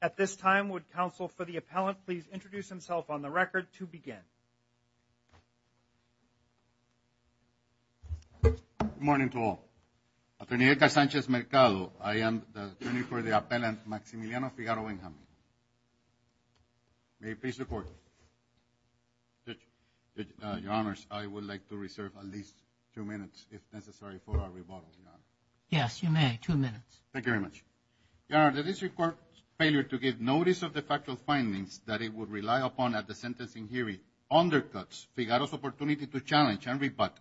At this time, would counsel for the appellant please introduce himself on the record to begin. Good morning to all. Attorney Edgar Sanchez-Mercado. I am the attorney for the appellant, Maximiliano Figaro-Benjamin. May it please the Court. Your Honors, I would like to reserve at least two minutes, if necessary, for our rebuttal, Your Honor. Yes, you may. Two minutes. Thank you very much. Your Honor, the district court's failure to give notice of the factual findings that it would rely upon at the sentencing hearing undercuts Figaro's opportunity to challenge and rebut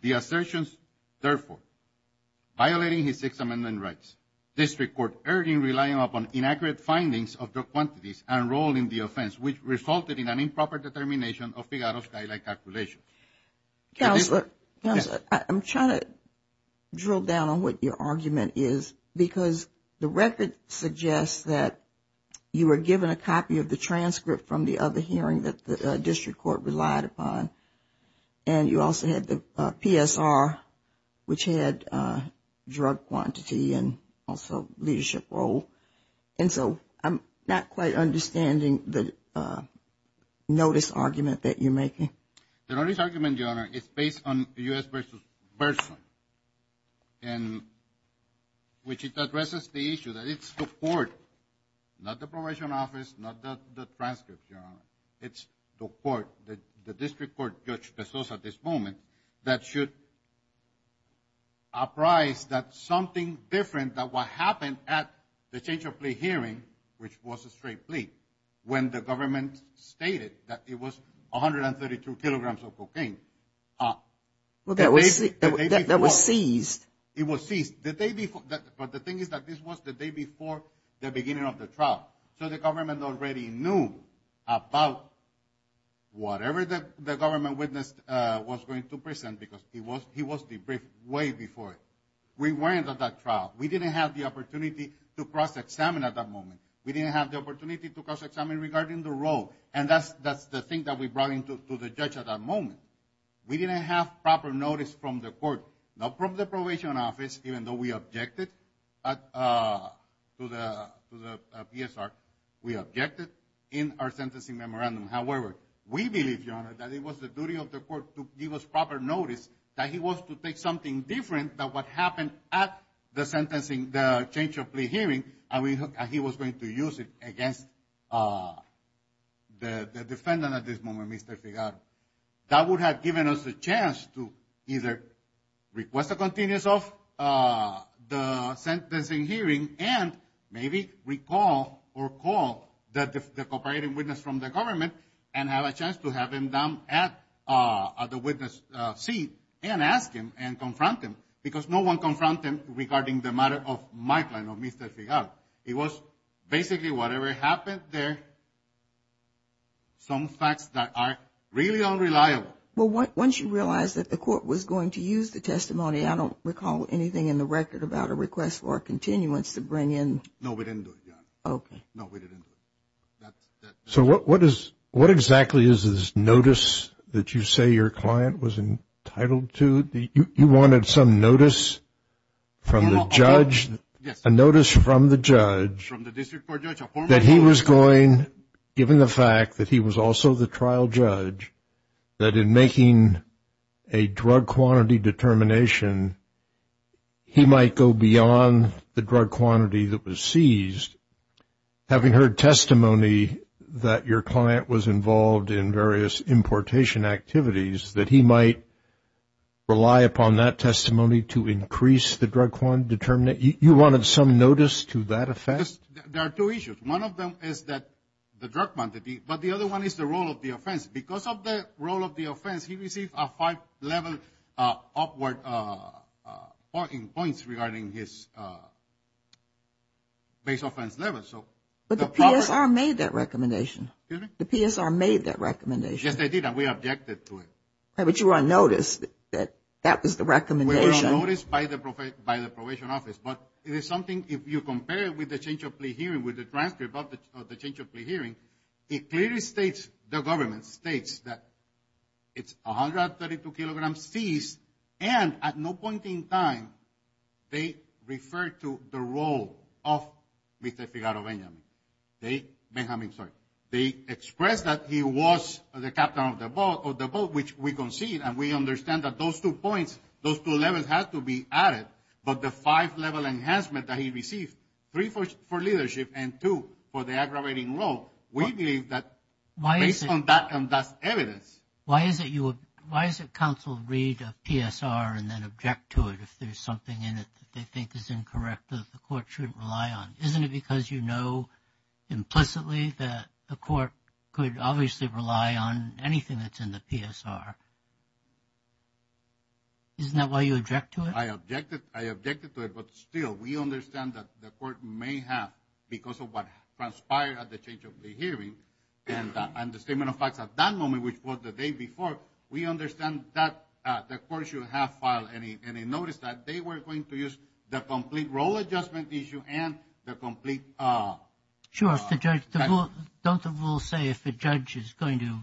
the assertions, therefore, violating his Sixth Amendment rights. District Court urging relying upon inaccurate findings of drug quantities and role in the offense, which resulted in an improper determination of Figaro's guideline calculation. Counselor, I'm trying to drill down on what your argument is because the record suggests that you were given a copy of the transcript from the other hearing that the district court relied upon, and you also had the PSR, which had drug quantity and also leadership role. And so I'm not quite understanding the notice argument that you're making. The notice argument, Your Honor, is based on U.S. v. Burson, which addresses the issue that it's the court, not the probation office, not the transcript, Your Honor. It's the court, the district court, Judge Pesos, at this moment, that should uprise that something different, that what happened at the change of plea hearing, which was a straight plea, when the government stated that it was 132 kilograms of cocaine. Well, that was seized. It was seized. But the thing is that this was the day before the beginning of the trial, so the government already knew about whatever the government witness was going to present because he was debriefed way before it. We weren't at that trial. We didn't have the opportunity to cross-examine at that moment. We didn't have the opportunity to cross-examine regarding the role. And that's the thing that we brought into the judge at that moment. We didn't have proper notice from the court, not from the probation office, even though we objected to the PSR. We objected in our sentencing memorandum. However, we believe, Your Honor, that it was the duty of the court to give us proper notice that he was to take something different than what happened at the sentencing, the change of plea hearing, and he was going to use it against the defendant at this moment, Mr. Figaro. That would have given us a chance to either request a continuous of the sentencing hearing and maybe recall or call the cooperating witness from the government and have a chance to have him down at the witness seat and ask him and confront him, because no one confront him regarding the matter of my client, of Mr. Figaro. It was basically whatever happened there, some facts that are really unreliable. Well, once you realize that the court was going to use the testimony, I don't recall anything in the record about a request for a continuance to bring in. No, we didn't do it, Your Honor. Okay. No, we didn't do it. So what exactly is this notice that you say your client was entitled to? You wanted some notice from the judge, a notice from the judge that he was going, given the fact that he was also the trial judge, that in making a drug quantity determination, he might go beyond the drug quantity that was seized, having heard testimony that your client was involved in various importation activities, that he might rely upon that testimony to increase the drug quantity determination? You wanted some notice to that effect? There are two issues. One of them is that the drug quantity, but the other one is the role of the offense. Because of the role of the offense, he received a five-level upward points regarding his base offense level. But the PSR made that recommendation. Excuse me? The PSR made that recommendation. Yes, they did. And we objected to it. But you were on notice that that was the recommendation. We were on notice by the probation office. But it is something, if you compare it with the change of plea hearing, with the transcript of the change of plea hearing, it clearly states, the government states, that it's 132 kilograms seized, and at no point in time, they referred to the role of Mr. Figaro Benjamin. Benjamin, sorry. They expressed that he was the captain of the boat, which we concede, and we understand that those two points, those two levels had to be added. But the five-level enhancement that he received, three for leadership and two for the aggravating role, we believe that based on that evidence. Why is it counsel read a PSR and then object to it if there's something in it that they think is incorrect that the court shouldn't rely on? Isn't it because you know implicitly that the court could obviously rely on anything that's in the PSR? Isn't that why you object to it? I objected to it. But still, we understand that the court may have, because of what transpired at the change of plea hearing, and the statement of facts at that moment, which was the day before, we understand that the court should have filed any notice that they were going to use the complete... Sure. Don't the rule say if a judge is going to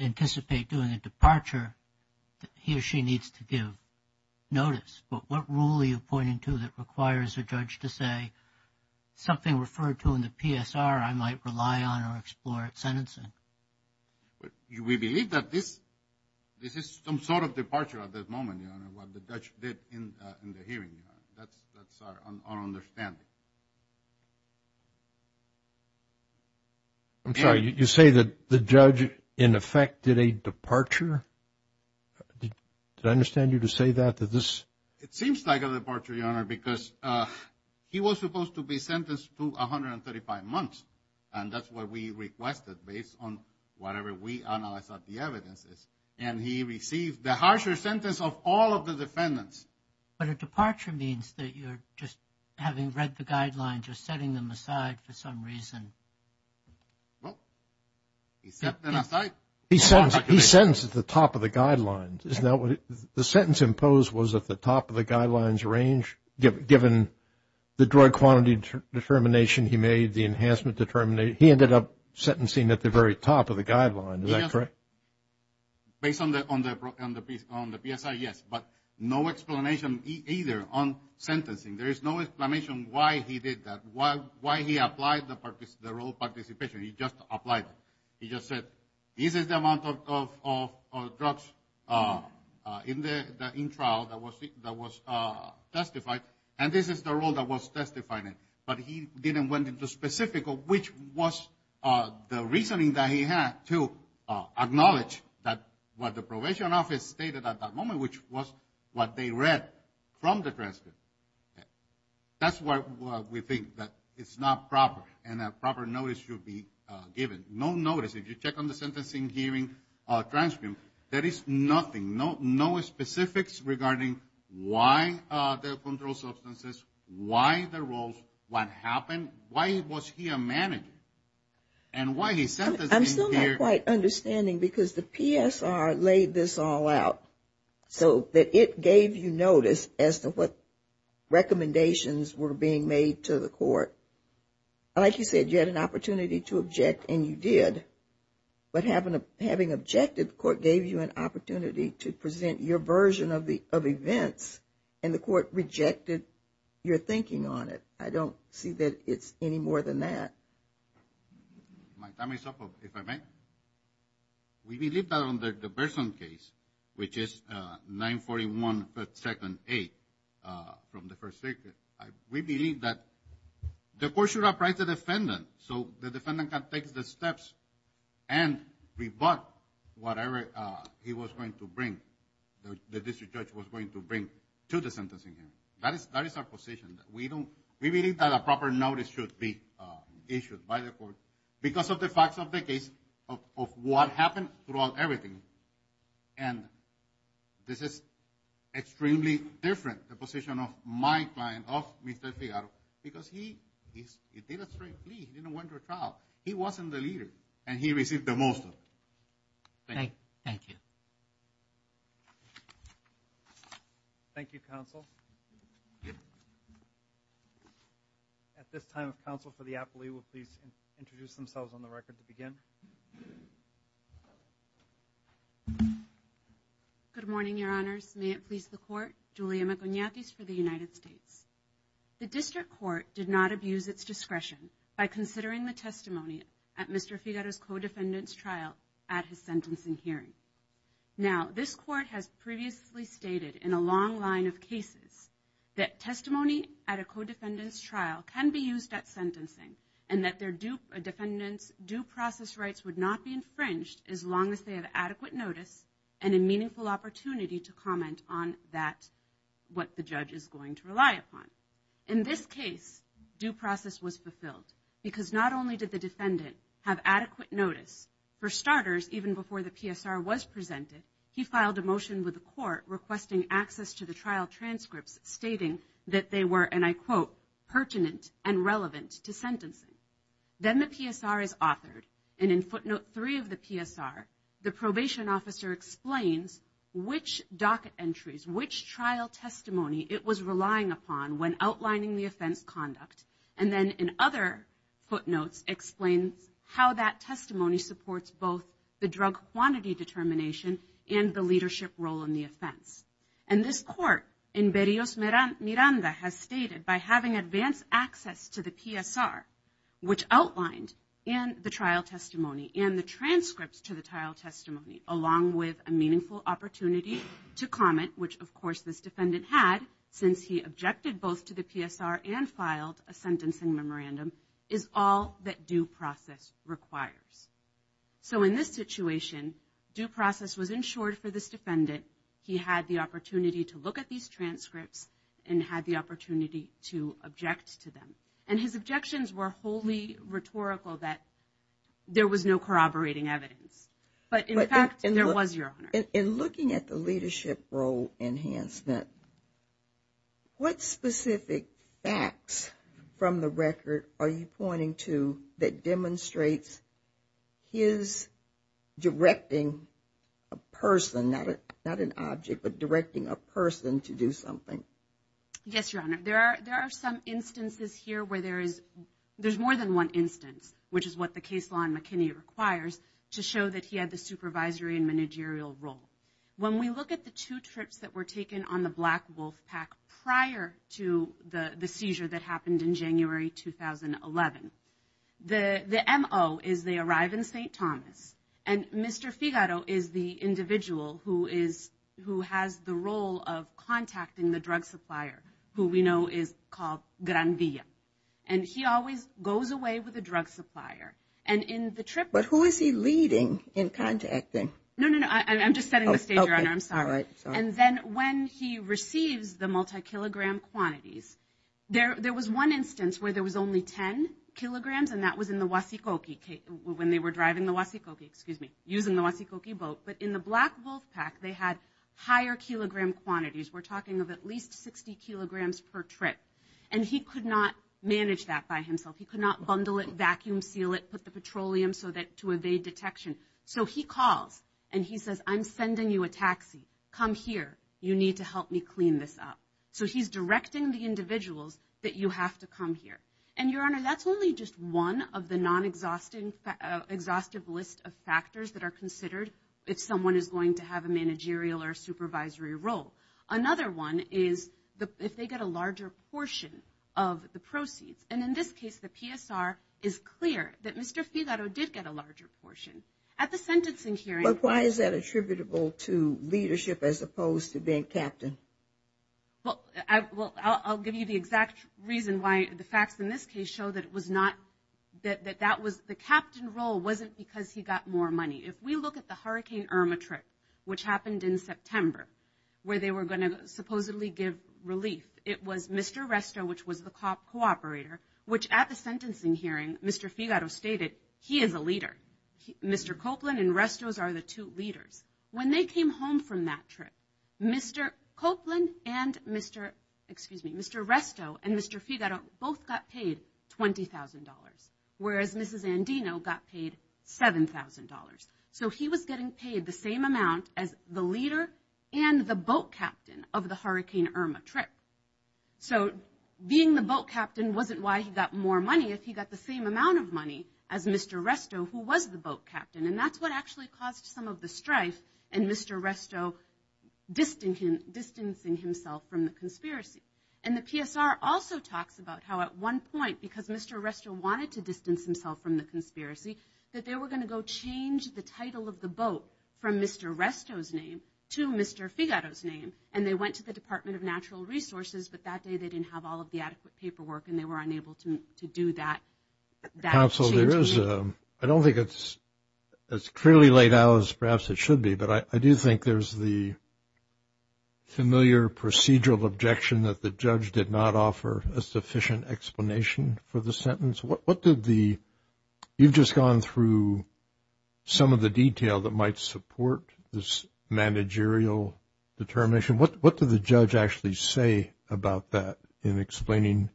anticipate doing a departure, he or she needs to give notice? But what rule are you pointing to that requires a judge to say something referred to in the PSR I might rely on or explore at sentencing? We believe that this is some sort of departure at that moment, Your Honor, what the judge did in the hearing. That's our understanding. I'm sorry. You say that the judge, in effect, did a departure? Did I understand you to say that? It seems like a departure, Your Honor, because he was supposed to be sentenced to 135 months. And that's what we requested based on whatever we analyzed the evidence is. And he received the harsher sentence of all of the defendants. But a departure means that you're just having read the guidelines or setting them aside for some reason. Well, he set them aside. He sentenced at the top of the guidelines. The sentence imposed was at the top of the guidelines range, given the drug quantity determination he made, the enhancement determination. He ended up sentencing at the very top of the guideline. Is that correct? Based on the PSI, yes. But no explanation either on sentencing. There is no explanation why he did that, why he applied the role of participation. He just applied it. He just said, this is the amount of drugs in trial that was testified, and this is the role that was testified in. But he didn't went into specifics of which was the reasoning that he had to acknowledge that what the probation office stated at that moment, which was what they read from the transcript. That's why we think that it's not proper and that proper notice should be given. No notice. If you check on the sentencing hearing transcript, there is nothing, no specifics regarding why the controlled substances, why the roles, what happened, why was he a manager, and why he sentenced. I'm still not quite understanding because the PSR laid this all out so that it gave you notice as to what recommendations were being made to the court. Like you said, you had an opportunity to object, and you did. But having objected, the court gave you an opportunity to present your version of events, and the court rejected your thinking on it. I don't see that it's any more than that. My time is up, if I may. We believe that on the Berson case, which is 941, 5th, 2nd, 8th, from the First Circuit. We believe that the court should upright the defendant so the defendant can take the steps and rebut whatever he was going to bring, the district judge was going to bring to the sentencing hearing. That is our position. We believe that a proper notice should be issued by the court because of the facts of the case, of what happened throughout everything. And this is extremely different, the position of my client, of Mr. Figaro, because he did a straight plea. He didn't go to a trial. He wasn't the leader, and he received the most of it. Thank you. Thank you. Thank you, counsel. At this time, counsel for the appellee will please introduce themselves on the record to begin. Good morning, your honors. May it please the court, Julia McIgnatis for the United States. The district court did not abuse its discretion by considering the testimony at Mr. Figaro's co-defendant's trial at his sentencing hearing. Now, this court has previously stated in a long line of cases that testimony at a co-defendant's trial can be used at sentencing and that their defendant's due process rights would not be infringed as long as they have adequate notice and a meaningful opportunity to comment on what the judge is going to rely upon. In this case, due process was fulfilled because not only did the defendant have adequate notice, for example, if a trial was presented, he filed a motion with the court requesting access to the trial transcripts stating that they were, and I quote, pertinent and relevant to sentencing. Then the PSR is authored, and in footnote three of the PSR, the probation officer explains which docket entries, which trial testimony it was relying upon when outlining the offense conduct, and then in other footnotes, explains how that testimony supports both the drug quantity determination and the leadership role in the offense. And this court in Berrios Miranda has stated by having advanced access to the PSR, which outlined in the trial testimony and the transcripts to the trial testimony, along with a meaningful opportunity to comment, which of course this defendant had since he objected both to the PSR and filed a sentencing memorandum, is all that due process requires. So in this situation, due process was ensured for this defendant. He had the opportunity to look at these transcripts and had the opportunity to object to them. And his objections were wholly rhetorical that there was no corroborating evidence. In looking at the leadership role enhancement, what specific facts from the record are you pointing to that demonstrates his directing a person, not an object, but directing a person to do something? Yes, Your Honor. There are some instances here where there is more than one instance, which is what the case law in McKinney requires, to show that he had the supervisory and managerial role. When we look at the two trips that were taken on the Black Wolf Pack prior to the seizure that happened in January 2011, the MO is they arrive in St. Thomas, and Mr. Figaro is the individual who has the role of contacting the drug supplier, who we know is called Grandia. And he always goes away with the drug supplier. But who is he leading in contacting? No, no, no. I'm just setting the stage, Your Honor. I'm sorry. And then when he receives the multi-kilogram quantities, there was one instance where there was only 10 kilograms, and that was in the Wasikoki, when they were driving the Wasikoki, excuse me, using the Wasikoki boat. But in the Black Wolf Pack, they had higher kilogram quantities. We're talking of at least 60 kilograms per trip. And he could not manage that by himself. He could not bundle it, vacuum seal it, put the petroleum to evade detection. So he calls, and he says, I'm sending you a taxi. Come here. You need to help me clean this up. So he's directing the individuals that you have to come here. And, Your Honor, that's only just one of the non-exhaustive list of factors that are considered if someone is going to have a managerial or supervisory role. Another one is if they get a larger portion of the proceeds. And in this case, the PSR is clear that Mr. Figaro did get a larger portion. At the sentencing hearing ---- But why is that attributable to leadership as opposed to being captain? Well, I'll give you the exact reason why the facts in this case show that it was not, that that was the captain role wasn't because he got more money. If we look at the Hurricane Irma trip, which happened in September, where they were going to supposedly give relief, it was Mr. Resto, which was the co-operator, which at the sentencing hearing, Mr. Figaro stated he is a leader. Mr. Copeland and Restos are the two leaders. When they came home from that trip, Mr. Copeland and Mr. Resto and Mr. Figaro both got paid $20,000, whereas Mrs. Andino got paid $7,000. So he was getting paid the same amount as the leader and the boat captain of the Hurricane Irma trip. So being the boat captain wasn't why he got more money. If he got the same amount of money as Mr. Resto, who was the boat captain, and that's what actually caused some of the strife and Mr. Resto distancing himself from the conspiracy. And the PSR also talks about how at one point, because Mr. Resto wanted to distance himself from the conspiracy, that they were going to go change the title of the boat from Mr. Resto's name to Mr. Figaro's name. And they went to the Department of Natural Resources, but that day they didn't have all of the adequate paperwork and they were unable to do that. Counsel, I don't think it's as clearly laid out as perhaps it should be, but I do think there's the familiar procedural objection that the judge did not offer a sufficient explanation for the sentence. You've just gone through some of the detail that might support this managerial determination. What did the judge actually say about that in explaining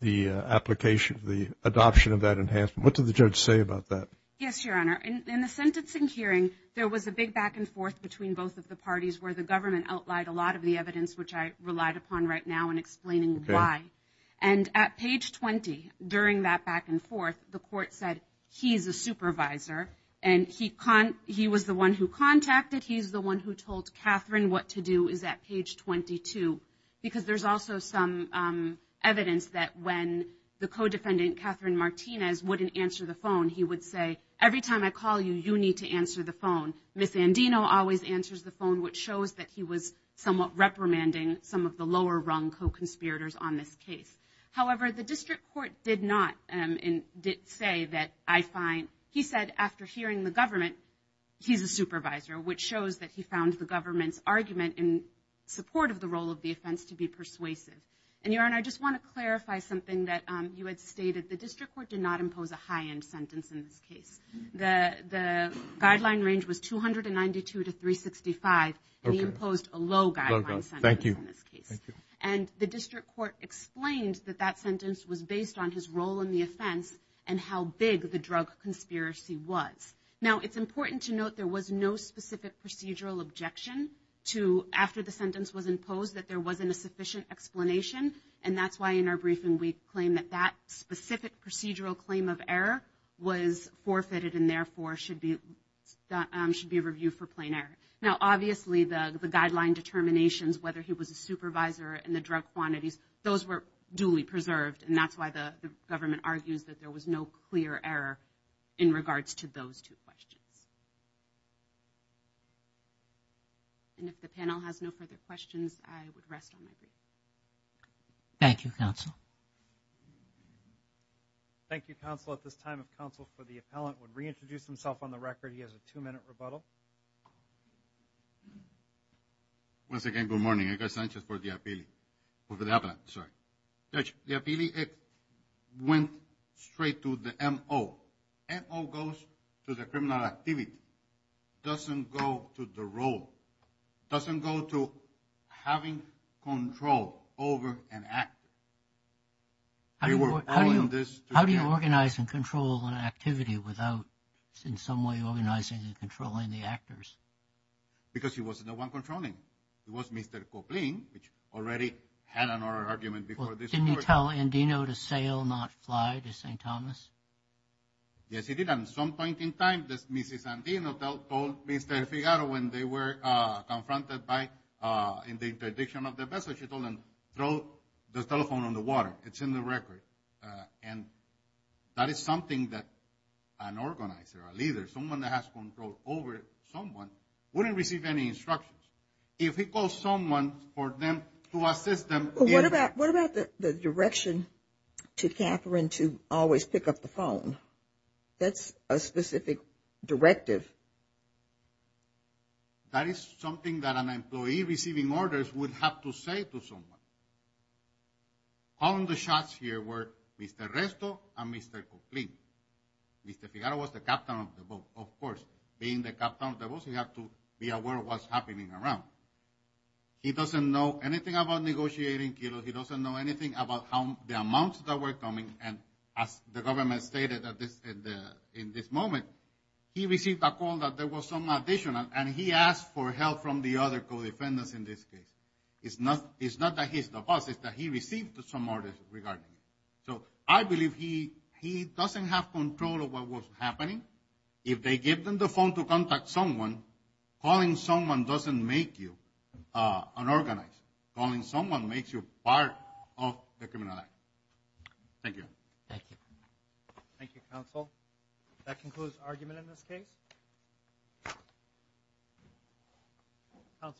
the application, the adoption of that enhancement? What did the judge say about that? Yes, Your Honor. In the sentencing hearing, there was a big back and forth between both of the parties where the government outlined a lot of the evidence, which I relied upon right now in explaining why. And at page 20, during that back and forth, the court said he's a supervisor and he was the one who contacted, he's the one who told Catherine what to do, is at page 22. Because there's also some evidence that when the co-defendant, Catherine Martinez, wouldn't answer the phone, he would say, every time I call you, you need to answer the phone. Ms. Andino always answers the phone, which shows that he was somewhat reprimanding some of the lower rung co-conspirators on this case. However, the district court did not say that I find, he said after hearing the government, he's a supervisor, which shows that he found the government's argument in support of the role of the offense to be persuasive. And, Your Honor, I just want to clarify something that you had stated. The district court did not impose a high-end sentence in this case. The guideline range was 292 to 365, and he imposed a low guideline sentence. Thank you. And the district court explained that that sentence was based on his role in the offense and how big the drug conspiracy was. Now, it's important to note there was no specific procedural objection to, after the sentence was imposed, that there wasn't a sufficient explanation, and that's why in our briefing we claim that that specific procedural claim of error was forfeited and, therefore, should be reviewed for plain error. Now, obviously, the guideline determinations, whether he was a supervisor and the drug quantities, those were duly preserved, and that's why the government argues that there was no clear error in regards to those two questions. And if the panel has no further questions, I would rest on my brief. Thank you, counsel. Thank you, counsel. At this time, if counsel for the appellant would reintroduce himself on the record, he has a two-minute rebuttal. Once again, good morning. Edgar Sanchez for the appellant. Judge, the appeal, it went straight to the MO. MO goes to the criminal activity. It doesn't go to the role. It doesn't go to having control over an act. How do you organize and control an activity without in some way organizing and controlling the actors? Because he wasn't the one controlling. It was Mr. Copling, which already had another argument before this court. Didn't he tell Andino to sail, not fly, to St. Thomas? Yes, he did. And at some point in time, Mrs. Andino told Mr. Figaro when they were confronted by in the interdiction of the vessel, she told them, throw the telephone in the water. It's in the record. And that is something that an organizer, a leader, someone that has control over someone, wouldn't receive any instructions. If he calls someone for them to assist them. What about the direction to Catherine to always pick up the phone? That's a specific directive. That is something that an employee receiving orders would have to say to someone. On the shots here were Mr. Resto and Mr. Copling. Mr. Figaro was the captain of the boat, of course. Being the captain of the boat, you have to be aware of what's happening around. He doesn't know anything about negotiating kilos. He doesn't know anything about the amounts that were coming. And as the government stated in this moment, he received a call that there was some additional and he asked for help from the other co-defendants in this case. It's not that he's the boss. It's that he received some orders regarding it. So I believe he doesn't have control of what was happening. If they give them the phone to contact someone, calling someone doesn't make you an organizer. Calling someone makes you part of the criminal act. Thank you. Thank you. Thank you, counsel. That concludes argument in this case.